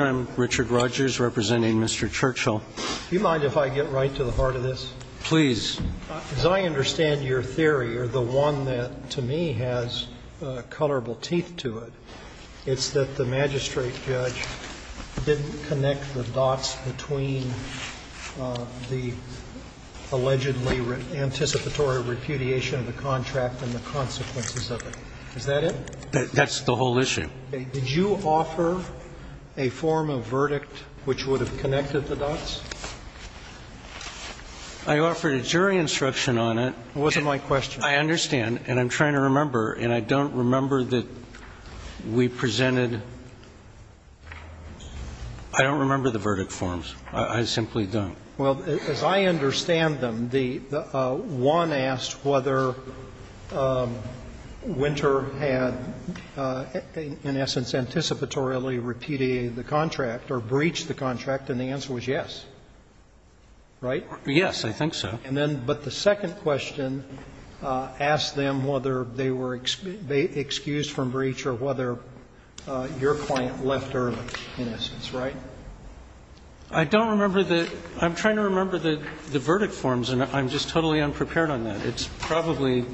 I'm Richard Rodgers, representing Mr. Churchill. Do you mind if I get right to the heart of this? Please. As I understand your theory, or the one that to me has colorable teeth to it, it's that the magistrate judge didn't connect the dots between the allegedly anticipatory repudiation of the contract and the consequences of it. Is that it? That's the whole issue. Did you offer a form of verdict which would have connected the dots? I offered a jury instruction on it. It wasn't my question. I understand. And I'm trying to remember, and I don't remember that we presented – I don't remember the verdict forms. I simply don't. Well, as I understand them, one asked whether Winter had, in essence, anticipatorily repudiated the contract or breached the contract, and the answer was yes, right? Yes, I think so. And then, but the second question asked them whether they were excused from breach or whether your client left early, in essence, right? I don't remember the – I'm trying to remember the verdict forms, and I'm just totally unprepared on that. It's probably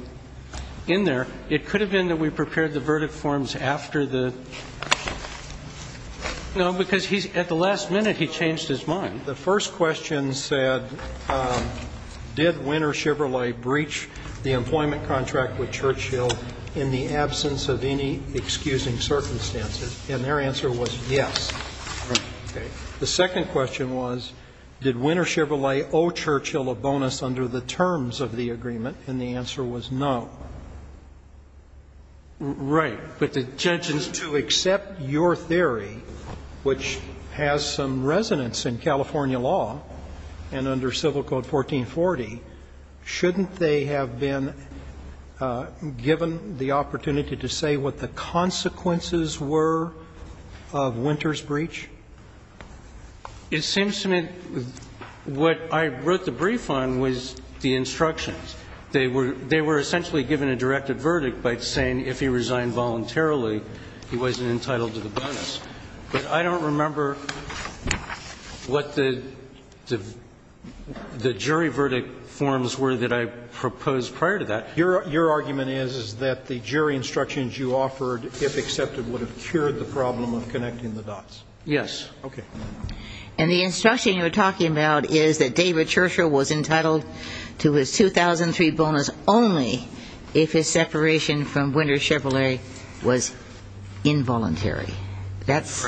in there. It could have been that we prepared the verdict forms after the – no, because he's – at the last minute, he changed his mind. The first question said, did Winter Shiverly breach the employment contract with Churchill in the absence of any excusing circumstances, and their answer was yes. Okay. The second question was, did Winter Shiverly owe Churchill a bonus under the terms of the agreement, and the answer was no. Right. But the judge is to accept your theory, which has some resonance in California law and under Civil Code 1440, shouldn't they have been given the opportunity to say what the consequences were of Winter's breach? It seems to me what I wrote the brief on was the instructions. They were essentially given a directed verdict by saying if he resigned voluntarily, he wasn't entitled to the bonus. But I don't remember what the jury verdict forms were that I proposed prior to that. Your argument is, is that the jury instructions you offered, if accepted, would have cured the problem of connecting the dots. Yes. Okay. And the instruction you were talking about is that David Churchill was entitled to his 2003 bonus only if his separation from Winter Shively was involuntary. That's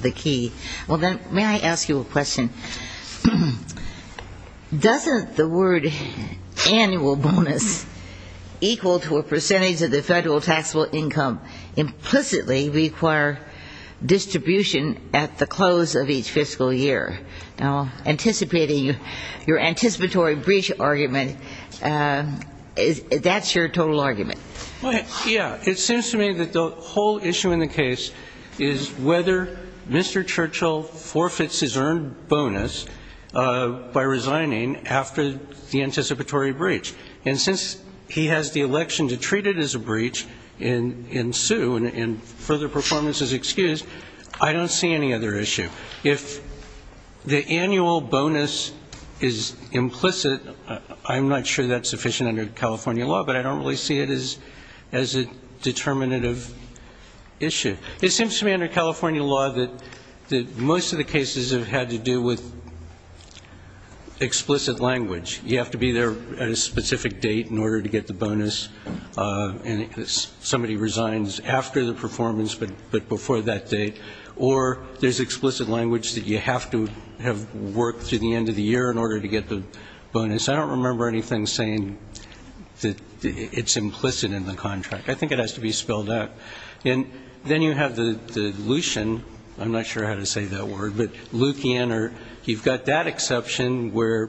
the key. Well, then, may I ask you a question? Doesn't the word annual bonus equal to a percentage of the federal taxable income implicitly require distribution at the close of each fiscal year? Now, anticipating your anticipatory breach argument, that's your total argument. Yeah. It seems to me that the whole issue in the case is whether Mr. Churchill forfeits his earned bonus by resigning after the anticipatory breach. And since he has the election to treat it as a breach and sue and further performance is excused, I don't see any other issue. If the annual bonus is implicit, I'm not sure that's sufficient under California law, but I don't really see it as a determinative issue. It seems to me under California law that most of the cases have had to do with explicit language. You have to be there at a specific date in order to get the bonus. And somebody resigns after the performance, but before that date. Or there's explicit language that you have to have worked through the end of the year in order to get the bonus. I don't remember anything saying that it's implicit in the contract. I think it has to be spelled out. And then you have the lucien. I'm not sure how to say that word. But lucien, or you've got that exception where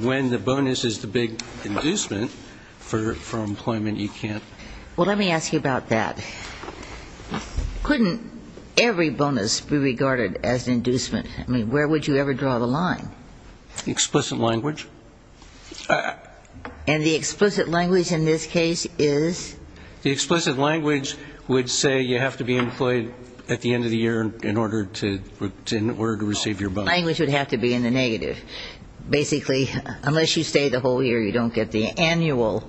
when the bonus is the big inducement for employment, you can't. Well, let me ask you about that. Couldn't every bonus be regarded as an inducement? I mean, where would you ever draw the line? Explicit language. And the explicit language in this case is? The explicit language would say you have to be employed at the end of the year in order to receive your bonus. Language would have to be in the negative. Basically, unless you stay the whole year, you don't get the annual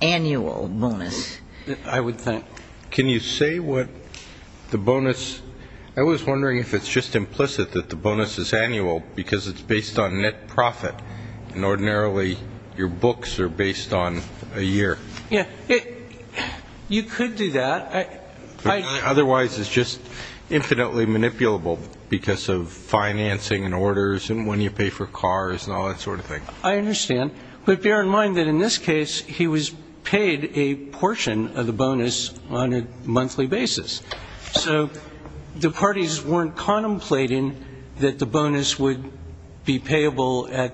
bonus. I would think. Can you say what the bonus... I was wondering if it's just implicit that the bonus is annual because it's based on net profit. And ordinarily, your books are based on a year. Yeah. You could do that. Otherwise, it's just infinitely manipulable because of financing and orders and when you pay for cars and all that sort of thing. I understand. But bear in mind that in this case, he was paid a portion of the bonus on a monthly basis. So the parties weren't contemplating that the bonus would be payable at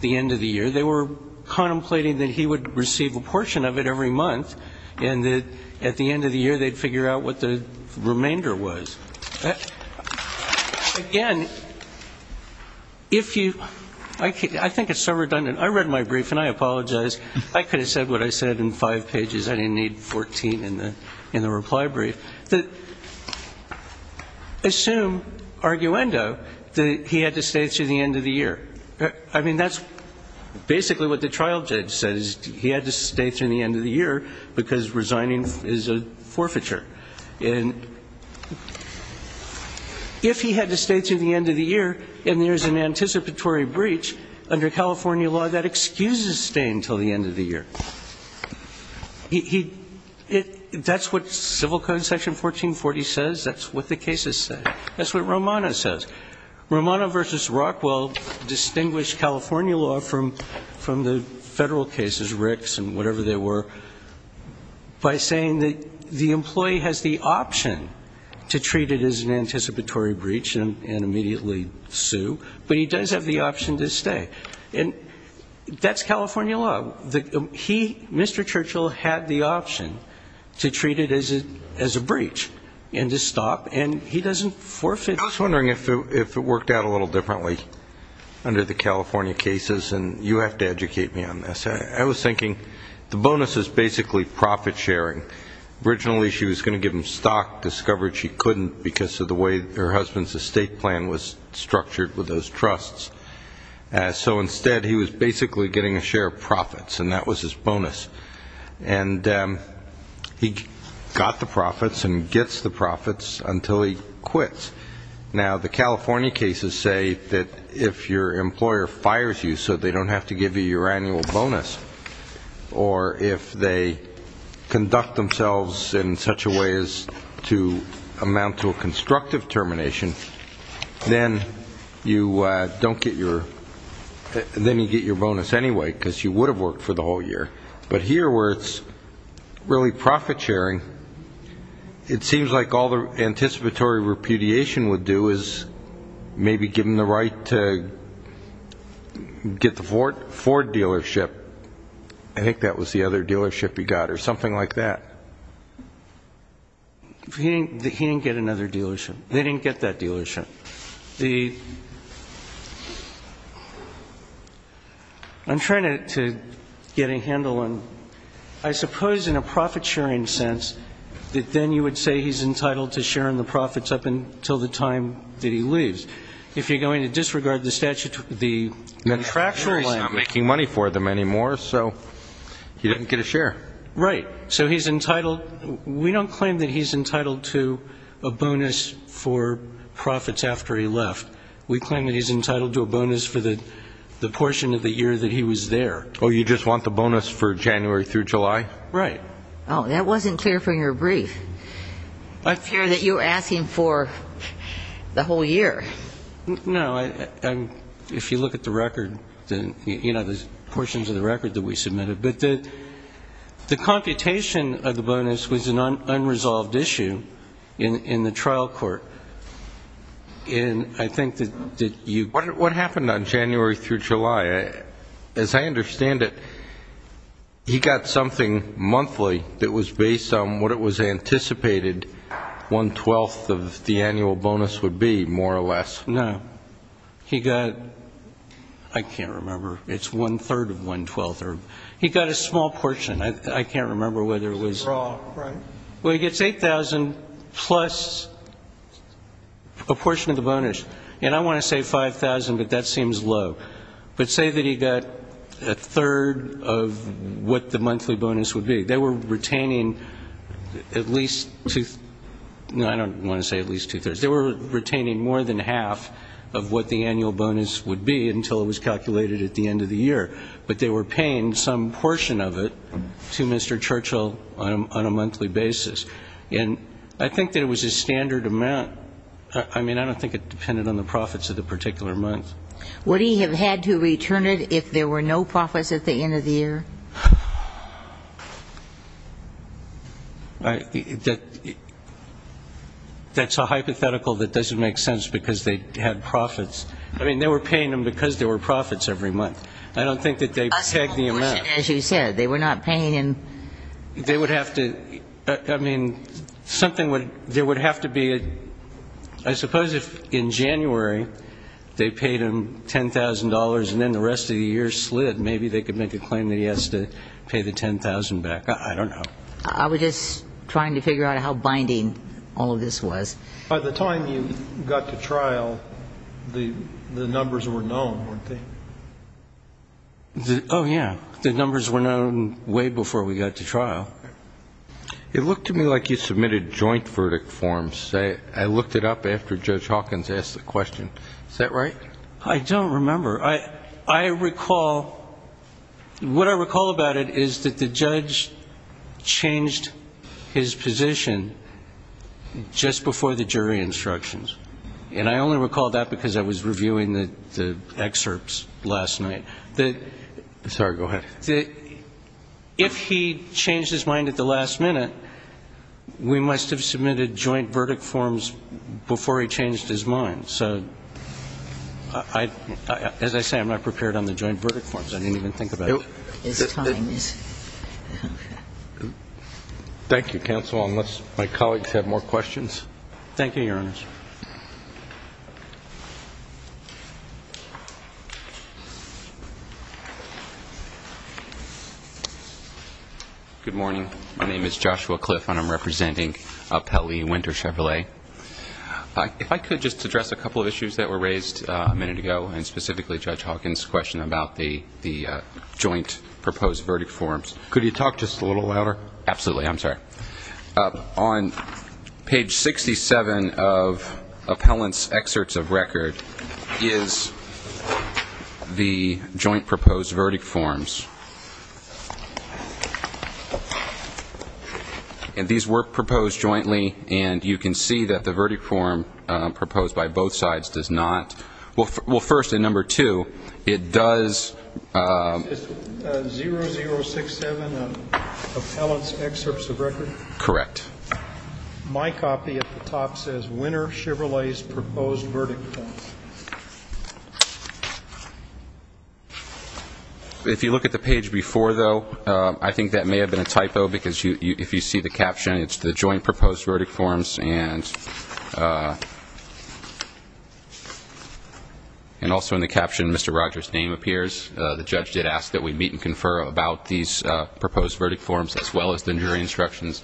the end of the year. They were contemplating that he would receive a portion of it every month and that at the end of the year, they'd figure out what the remainder was. Again, if you... I think it's so redundant. I read my brief and I apologize. I could have said what I said in five pages. I didn't need 14 in the reply brief. Assume, arguendo, that he had to stay through the end of the year. I mean, that's basically what the trial judge said, is he had to stay through the end of the year because resigning is a forfeiture. And if he had to stay through the end of the year and there's an anticipatory breach under California law, that excuses staying until the end of the year. That's what civil code section 1440 says. That's what the cases say. That's what Romano says. Romano versus Rockwell distinguished California law from the federal cases, Ricks and whatever they were, by saying that the employee has the option to treat it as an anticipatory breach and immediately sue, but he does have the option to stay. And that's California law. He, Mr. Churchill, had the option to treat it as a breach and to stop, and he doesn't forfeit. I was wondering if it worked out a little differently under the California cases, and you have to educate me on this. I was thinking the bonus is basically profit sharing. Originally she was going to give him stock, discovered she couldn't because of the way her husband's estate plan was structured with those trusts. So instead, he was basically getting a share of profits, and that was his bonus. And he got the profits and gets the profits until he quits. Now, the California cases say that if your employer fires you so they don't have to give you your annual bonus, or if they conduct themselves in such a way as to amount to a constructive termination, then you get your bonus anyway, because you would have worked for the whole year. But here, where it's really profit sharing, it seems like all the anticipatory repudiation would do is maybe give him the right to get the Ford dealership. I think that was the other dealership he got, or something like that. He didn't get another dealership. They didn't get that dealership. I'm trying to get a handle on, I suppose in a profit sharing sense, that then you would say he's entitled to sharing the profits up until the time that he leaves. If you're going to disregard the contractual land- I'm sure he's not making money for them anymore, so he didn't get a share. Right. So he's entitled- we don't claim that he's entitled to a bonus for profits after he left. We claim that he's entitled to a bonus for the portion of the year that he was there. Oh, you just want the bonus for January through July? Right. Oh, that wasn't clear from your brief. I'm sure that you were asking for the whole year. No, if you look at the record, you know, the portions of the record that we submitted. But the computation of the bonus was an unresolved issue in the trial court. And I think that you- What happened on January through July? As I understand it, he got something monthly that was based on what it was anticipated one-twelfth of the annual bonus would be, more or less. No. He got- I can't remember. It's one-third of one-twelfth. He got a small portion. I can't remember whether it was- Raw, right? Well, he gets $8,000 plus a portion of the bonus. And I want to say $5,000, but that seems low. But say that he got a third of what the monthly bonus would be. They were retaining at least two- no, I don't want to say at least two-thirds. They were retaining more than half of what the annual bonus would be until it was calculated at the end of the year. But they were paying some portion of it to Mr. Churchill on a monthly basis. And I think that it was a standard amount. I mean, I don't think it depended on the profits of the particular month. Would he have had to return it if there were no profits at the end of the year? That's a hypothetical that doesn't make sense because they had profits. I mean, they were paying them because there were profits every month. I don't think that they pegged the amount. A small portion, as you said. They were not paying in- They would have to- I mean, something would- there would have to be a- I suppose if in January they paid him $10,000 and then the rest of the year slid, maybe they could make a claim that he has to pay the $10,000 back. I don't know. I was just trying to figure out how binding all of this was. By the time you got to trial, the numbers were known, weren't they? Oh, yeah. The numbers were known way before we got to trial. It looked to me like you submitted joint verdict forms. I looked it up after Judge Hawkins asked the question. Is that right? I don't remember. I recall- what I recall about it is that the judge changed his position just before the jury instructions. And I only recall that because I was reviewing the excerpts last night. Sorry, go ahead. If he changed his mind at the last minute, we must have submitted joint verdict forms before he changed his mind. So, as I say, I'm not prepared on the joint verdict forms. I didn't even think about it. His time is- Thank you, counsel. Unless my colleagues have more questions. Thank you, Your Honors. Good morning. My name is Joshua Cliff and I'm representing Appellee Winter Chevrolet. If I could just address a couple of issues that were raised a minute ago, and specifically Judge Hawkins' question about the joint proposed verdict forms. Could you talk just a little louder? Absolutely. I'm sorry. On page 67 of Appellant's excerpts of record is the joint proposed verdict forms. And these were proposed jointly and you can see that the verdict form proposed by both sides does not. Well, first and number two, it does- Is this 0067 of Appellant's excerpts of record? Correct. My copy at the top says, Winter Chevrolet's proposed verdict form. If you look at the page before, though, I think that may have been a typo, because if you see the caption, it's the joint proposed verdict forms. And also in the caption, Mr. Rogers' name appears. The judge did ask that we meet and confer about these proposed verdict forms, as well as the jury instructions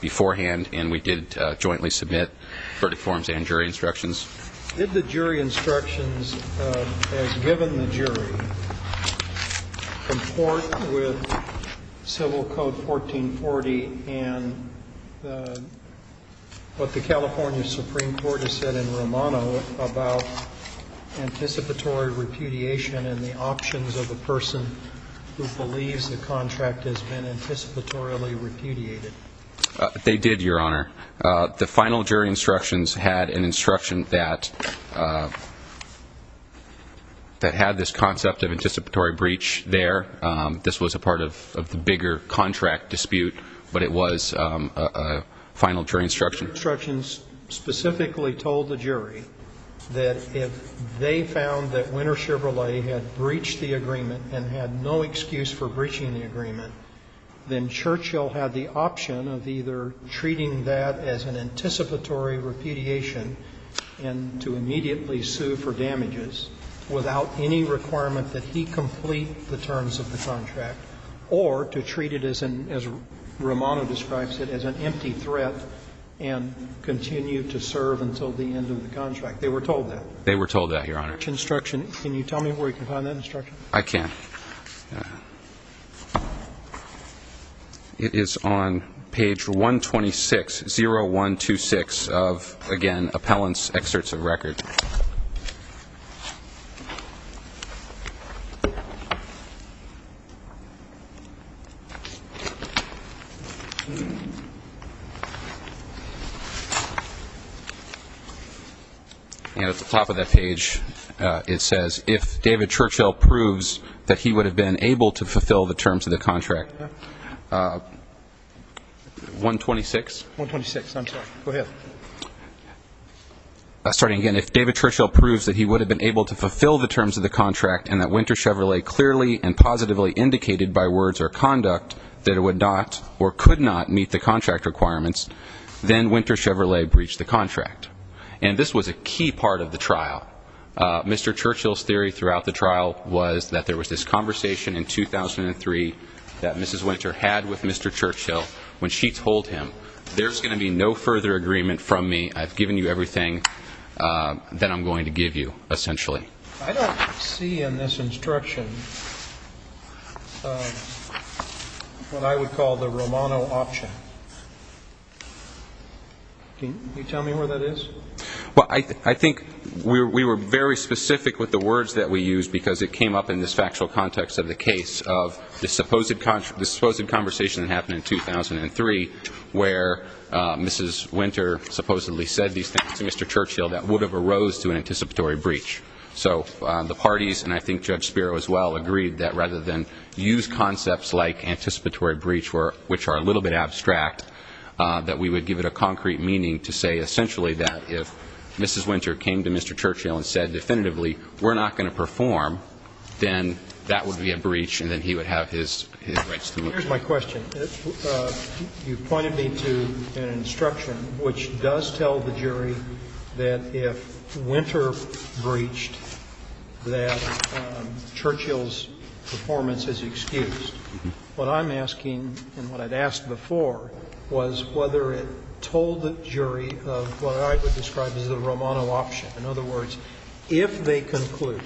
beforehand. And we did jointly submit verdict forms and jury instructions. Did the jury instructions, as given the jury, comport with Civil Code 1440 and what the California Supreme Court has said in Romano about anticipatory repudiation and the options of a person who believes the contract has been anticipatorily repudiated? They did, Your Honor. The final jury instructions had an instruction that had this concept of anticipatory breach there. This was a part of the bigger contract dispute, but it was a final jury instruction. The jury instructions specifically told the jury that if they found that Winner Chevrolet had breached the agreement and had no excuse for breaching the agreement, then Churchill had the option of either treating that as an anticipatory repudiation and to immediately sue for damages without any requirement that he complete the terms of the contract, or to treat it as Romano describes it, as an empty threat and continue to serve until the end of the contract. They were told that. They were told that, Your Honor. Instruction. Can you tell me where you can find that instruction? I can. It is on page 126, 0126 of, again, Appellant's Excerpts of Record. And at the top of that page, it says, if David Churchill proves that he would have been able to fulfill the terms of the contract. 126? 126, I'm sorry. Go ahead. Starting again, if David Churchill proves that he would have been able to fulfill the terms of the contract and that Winter Chevrolet clearly and positively indicated by words or conduct that it would not or could not meet the contract requirements, then Winter Chevrolet breached the contract. And this was a key part of the trial. Mr. Churchill's theory throughout the trial was that there was this conversation in 2003 that Mrs. Winter had with Mr. Churchill when she told him, there's going to be no further agreement from me. I've given you everything that I'm going to give you, essentially. I don't see in this instruction what I would call the Romano option. Can you tell me where that is? Well, I think we were very specific with the words that we used because it came up in this factual context of the case of the supposed conversation that happened in 2003 where Mrs. Winter supposedly said these things to Mr. Churchill that would have arose to an anticipatory breach. So the parties, and I think Judge Spiro as well, agreed that rather than use concepts like anticipatory breach, which are a little bit abstract, that we would give it a concrete meaning to say essentially that if Mrs. Winter came to Mr. Churchill and said definitively, we're not going to perform, then that would be a breach and then he would have his rights to look at it. Here's my question. You pointed me to an instruction which does tell the jury that if Winter breached, that Churchill's performance is excused. What I'm asking and what I'd asked before was whether it told the jury of what I would describe as the Romano option. In other words, if they conclude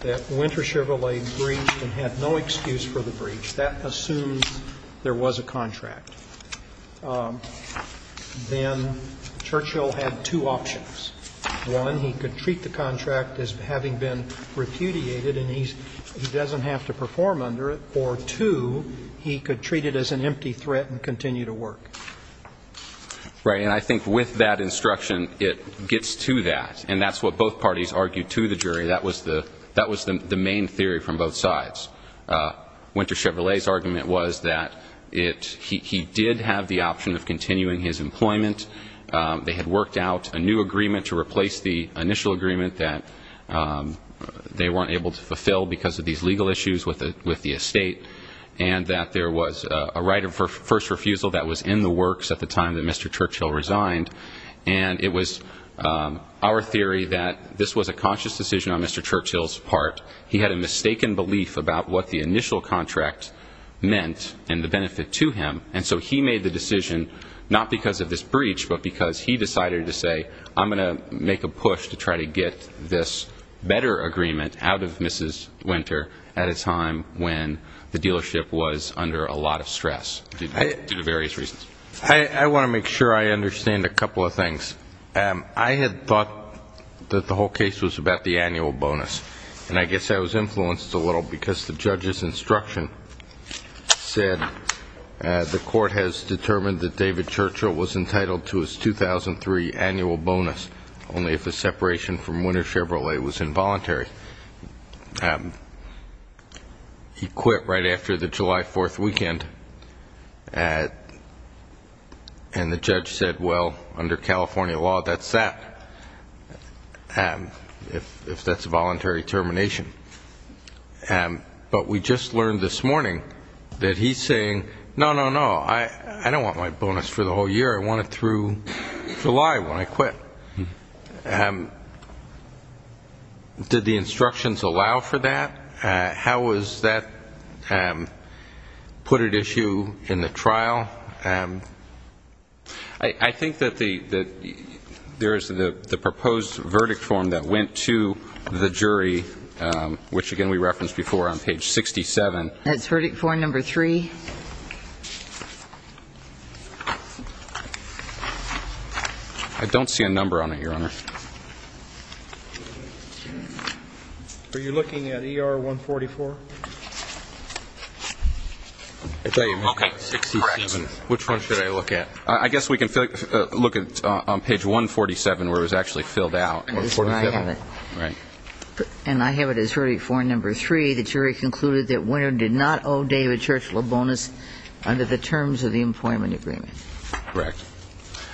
that Winter Chevrolet breached and had no excuse for the breach, that assumes there was a contract. Then Churchill had two options. One, he could treat the contract as having been repudiated and he doesn't have to perform under it, or two, he could treat it as an empty threat and continue to work. Right. And I think with that instruction, it gets to that. And that's what both parties argued to the jury. That was the main theory from both sides. Winter Chevrolet's argument was that he did have the option of continuing his employment. They had worked out a new agreement to replace the initial agreement that they weren't able to fulfill because of these legal issues with the estate. And that there was a right of first refusal that was in the works at the time that Mr. Churchill resigned. And it was our theory that this was a conscious decision on Mr. Churchill's part. He had a mistaken belief about what the initial contract meant and the benefit to him. And so he made the decision, not because of this breach, but because he decided to say, I'm going to make a push to try to get this better agreement out of Mrs. Winter at a time when the dealership was under a lot of stress, due to various reasons. I want to make sure I understand a couple of things. I had thought that the whole case was about the annual bonus. And I guess I was influenced a little because the judge's instruction said, the court has determined that David Churchill was entitled to his 2003 annual bonus, only if the separation from Winter Chevrolet was involuntary. He quit right after the July 4th weekend. And the judge said, well, under California law, that's that. If that's a voluntary termination. But we just learned this morning that he's saying, no, no, no. I don't want my bonus for the whole year. I want it through July when I quit. Did the instructions allow for that? How was that put at issue in the trial? I think that there is the proposed verdict form that went to the jury, which again we referenced before on page 67. That's verdict form number three. I don't see a number on it, Your Honor. Are you looking at ER 144? I'll tell you, it's correct. Which one should I look at? I guess we can look at page 147, where it was actually filled out. That's where I have it. And I have it as verdict form number three. The jury concluded that Winter did not owe David Churchill a bonus under the terms of the employment agreement. Correct.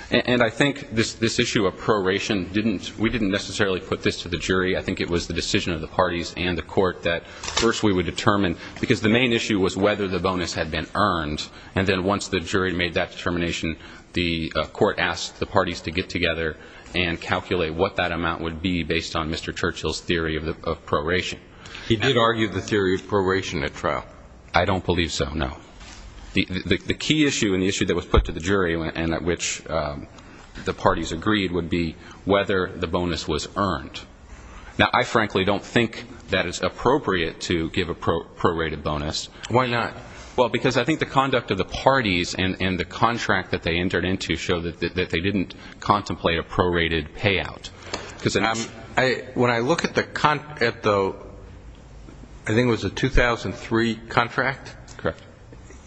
And I think this issue of proration, we didn't necessarily put this to the jury. I think it was the decision of the parties and the court that first we would determine, because the main issue was whether the bonus had been earned. And then once the jury made that determination, the court asked the parties to get together and calculate what that amount would be based on Mr. Churchill's theory of proration. He did argue the theory of proration at trial. I don't believe so, no. The key issue and the issue that was put to the jury and at which the parties agreed would be whether the bonus was earned. Now, I frankly don't think that it's appropriate to give a prorated bonus. Why not? Well, because I think the conduct of the parties and the contract that they entered into show that they didn't contemplate a prorated payout. Because when I look at the, I think it was a 2003 contract? Correct.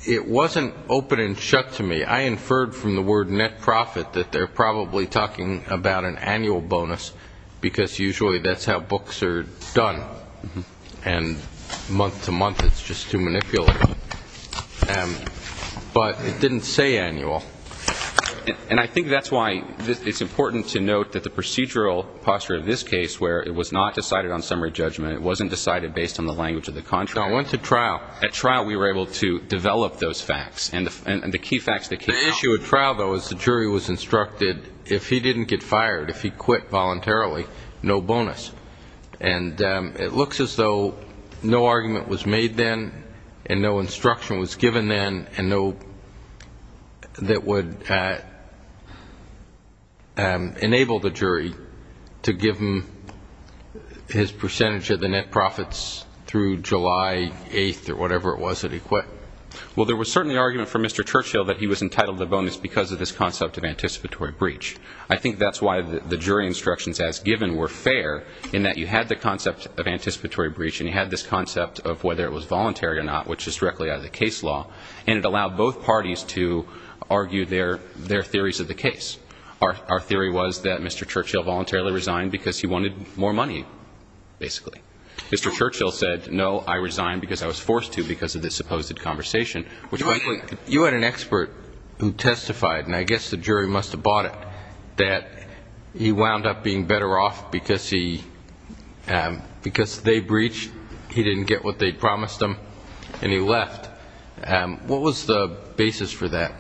It wasn't open and shut to me. I inferred from the word net profit that they're probably talking about an annual bonus because usually that's how books are done. And month to month, it's just too manipulative. But it didn't say annual. And I think that's why it's important to note that the procedural posture of this case where it was not decided on summary judgment, it wasn't decided based on the language of the contract. I went to trial. At trial, we were able to develop those facts and the key facts that came out. The issue at trial, though, is the jury was instructed if he didn't get fired, if he quit voluntarily, no bonus. And it looks as though no argument was made then and no instruction was given then and no, that would enable the jury to give him his percentage of the net profits through July 8th or whatever it was that he quit. Well, there was certainly an argument from Mr. Churchill that he was entitled to the bonus because of this concept of anticipatory breach. I think that's why the jury instructions as given were fair in that you had the concept of anticipatory breach and you had this concept of whether it was voluntary or not, which is directly out of the case law. And it allowed both parties to argue their theories of the case. Our theory was that Mr. Churchill voluntarily resigned because he wanted more money, basically. Mr. Churchill said, no, I resigned because I was forced to because of this supposed conversation. You had an expert who testified, and I guess the jury must have bought it, that he wound up being better off because they breached, he didn't get what they promised him, and he left. What was the basis for that?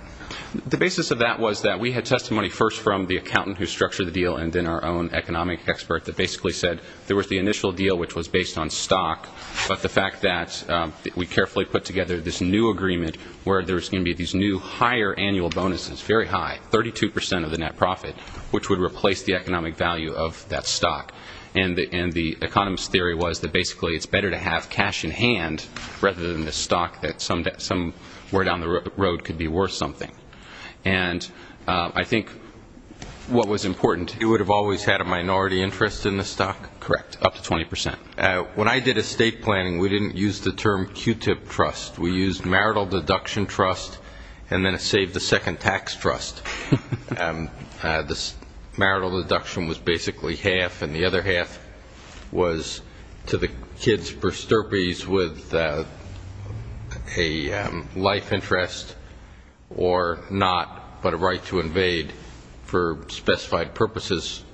The basis of that was that we had testimony first from the accountant who structured the deal and then our own economic expert that basically said there was the initial deal, which was based on stock, but the fact that we carefully put together this new agreement where there was going to be these new higher annual bonuses, very high, 32% of the net profit, which would replace the economic value of that stock. And the economist's theory was that basically it's better to have cash in hand rather than this stock that somewhere down the road could be worth something. And I think what was important... You would have always had a minority interest in the stock? Correct, up to 20%. When I did estate planning, we didn't use the term Q-tip trust. We used marital deduction trust, and then a save-the-second-tax trust. The marital deduction was basically half, and the other half was to the kids for stirpies with a life interest or not, but a right to invade for specified purposes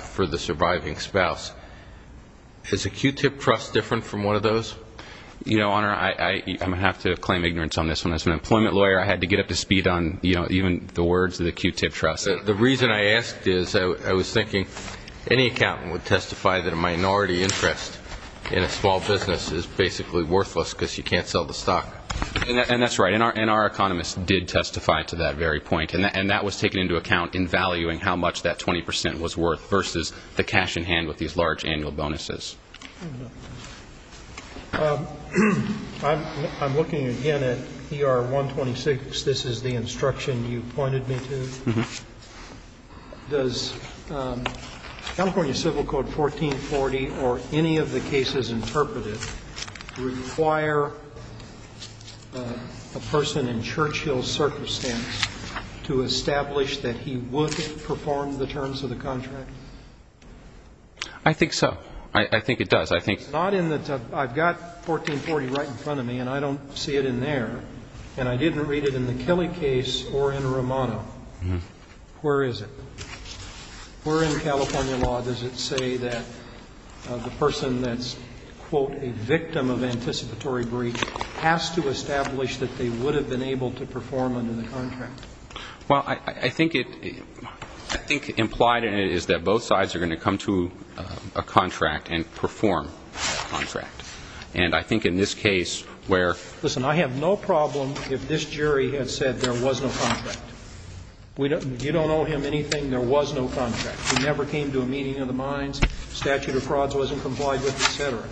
for the surviving spouse. Is a Q-tip trust different from one of those? You know, Honor, I'm going to have to claim ignorance on this one. As an employment lawyer, I had to get up to speed on even the words of the Q-tip trust. The reason I asked is I was thinking any accountant would testify that a minority interest in a small business is basically worthless because you can't sell the stock. And that's right, and our economist did testify to that very point, and that was taken into account in valuing how much that 20% was worth versus the cash in hand with these large annual bonuses. I'm looking again at ER 126. This is the instruction you pointed me to. Does California Civil Code 1440 or any of the cases interpreted require a person in Churchill's circumstance to establish that he would perform the terms of the contract? I think so. I think it does. I've got 1440 right in front of me, and I don't see it in there. And I didn't read it in the Kelly case or in Romano. Where is it? A victim of anticipatory breach has to establish that they would have been able to perform under the contract. Well, I think implied in it is that both sides are going to come to a contract and perform a contract. And I think in this case where... Listen, I have no problem if this jury had said there was no contract. You don't owe him anything. There was no contract. He never came to a meeting of the minds. Statute of frauds wasn't complied with, et cetera.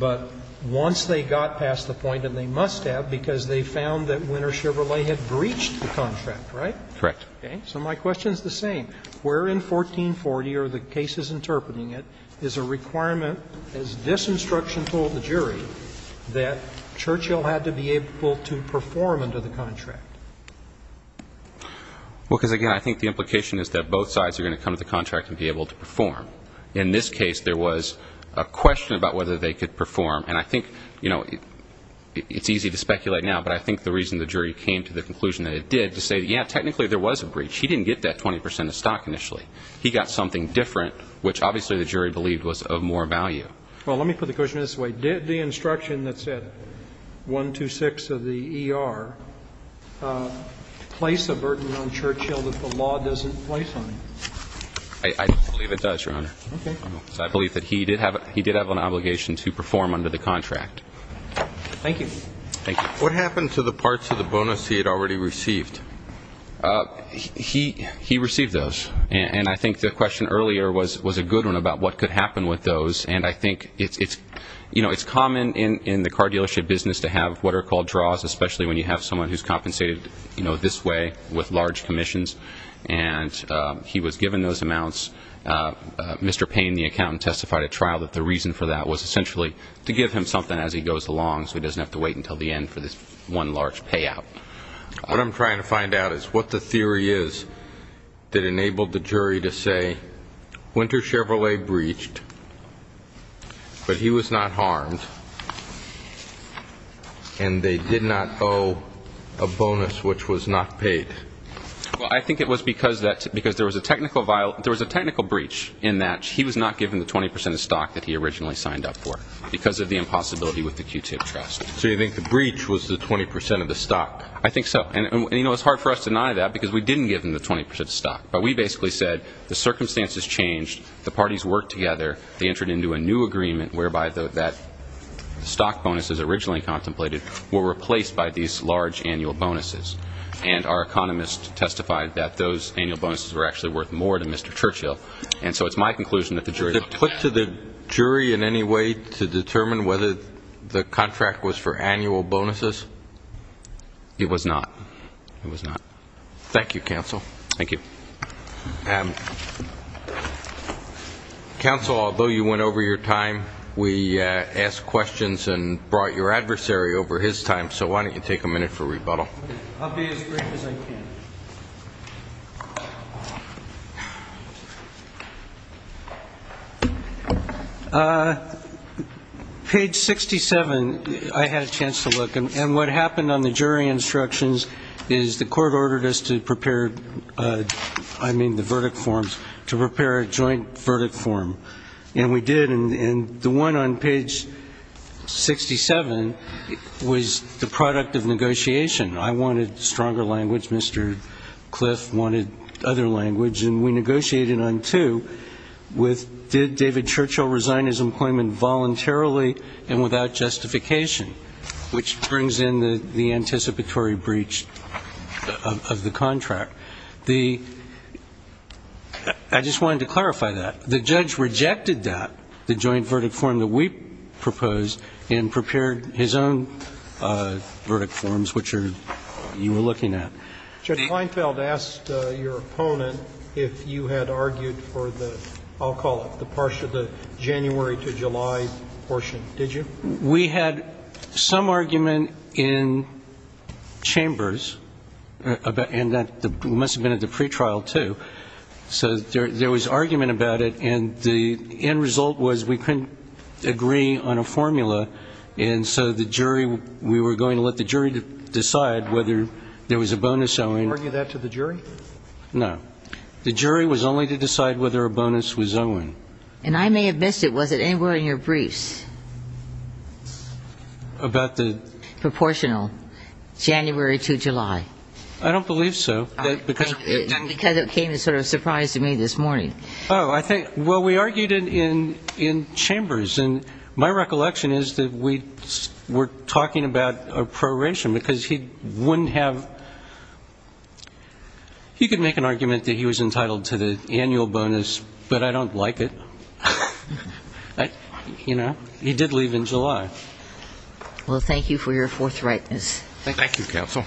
But once they got past the point, and they must have, because they found that Winter Chevrolet had breached the contract, right? Correct. So my question is the same. Where in 1440 are the cases interpreting it is a requirement, as this instruction told the jury, that Churchill had to be able to perform under the contract? Because, again, I think the implication is that both sides are going to come to the contract and be able to perform. In this case, there was a question about whether they could perform. And I think, you know, it's easy to speculate now, but I think the reason the jury came to the conclusion that it did is to say, yeah, technically there was a breach. He didn't get that 20 percent of stock initially. He got something different, which obviously the jury believed was of more value. Well, let me put the question this way. Did the instruction that said 126 of the ER place a burden on Churchill that the law doesn't place on him? I believe it does, Your Honor. Okay. Because I believe that he did have an obligation to perform under the contract. Thank you. Thank you. What happened to the parts of the bonus he had already received? He received those. And I think the question earlier was a good one about what could happen with those. And I think it's common in the car dealership business to have what are called draws, especially when you have someone who's compensated, you know, this way with large commissions. And he was given those amounts. Mr. Payne, the accountant, testified at trial that the reason for that was essentially to give him something as he goes along so he doesn't have to wait until the end for this one large payout. What I'm trying to find out is what the theory is that enabled the jury to say Winter Chevrolet breached, but he was not harmed, and they did not owe a bonus which was not paid. Well, I think it was because there was a technical breach in that he was not given the 20% of stock that he originally signed up for because of the impossibility with the Q-tip trust. So you think the breach was the 20% of the stock? I think so. And, you know, it's hard for us to deny that because we didn't give him the 20% of stock. But we basically said the circumstances changed, the parties worked together, they entered into a new agreement whereby that stock bonus as originally contemplated were replaced by these large annual bonuses. And our economist testified that those annual bonuses were actually worth more to Mr. Churchill. And so it's my conclusion that the jury looked at that. Was it put to the jury in any way to determine whether the contract was for annual bonuses? It was not. It was not. Thank you, counsel. Thank you. Counsel, although you went over your time, we asked questions and brought your adversary over his time, so why don't you take a minute for rebuttal? I'll be as brief as I can. Page 67, I had a chance to look. And what happened on the jury instructions is the court ordered us to prepare, I mean the verdict forms, to prepare a joint verdict form. And we did. And the one on page 67 was the product of negotiation. I wanted stronger language. Mr. Cliff wanted other language. And we negotiated on two with did David Churchill resign his employment voluntarily and without justification, which brings in the anticipatory breach of the contract. I just wanted to clarify that. The judge rejected that, the joint verdict form that we proposed, and prepared his own verdict forms, which you were looking at. Judge Seinfeld asked your opponent if you had argued for the, I'll call it, the January to July portion. Did you? We had some argument in chambers, and it must have been at the pretrial, too. So there was argument about it, and the end result was we couldn't agree on a formula. And so the jury, we were going to let the jury decide whether there was a bonus owing. Did you argue that to the jury? No. The jury was only to decide whether a bonus was owing. And I may have missed it. Was it anywhere in your briefs? About the? Proportional. January to July. I don't believe so. Because it came as sort of a surprise to me this morning. Oh, I think, well, we argued in chambers. And my recollection is that we were talking about a proration because he wouldn't have... He could make an argument that he was entitled to the annual bonus, but I don't like it. He did leave in July. Well, thank you for your forthrightness. Thank you, counsel.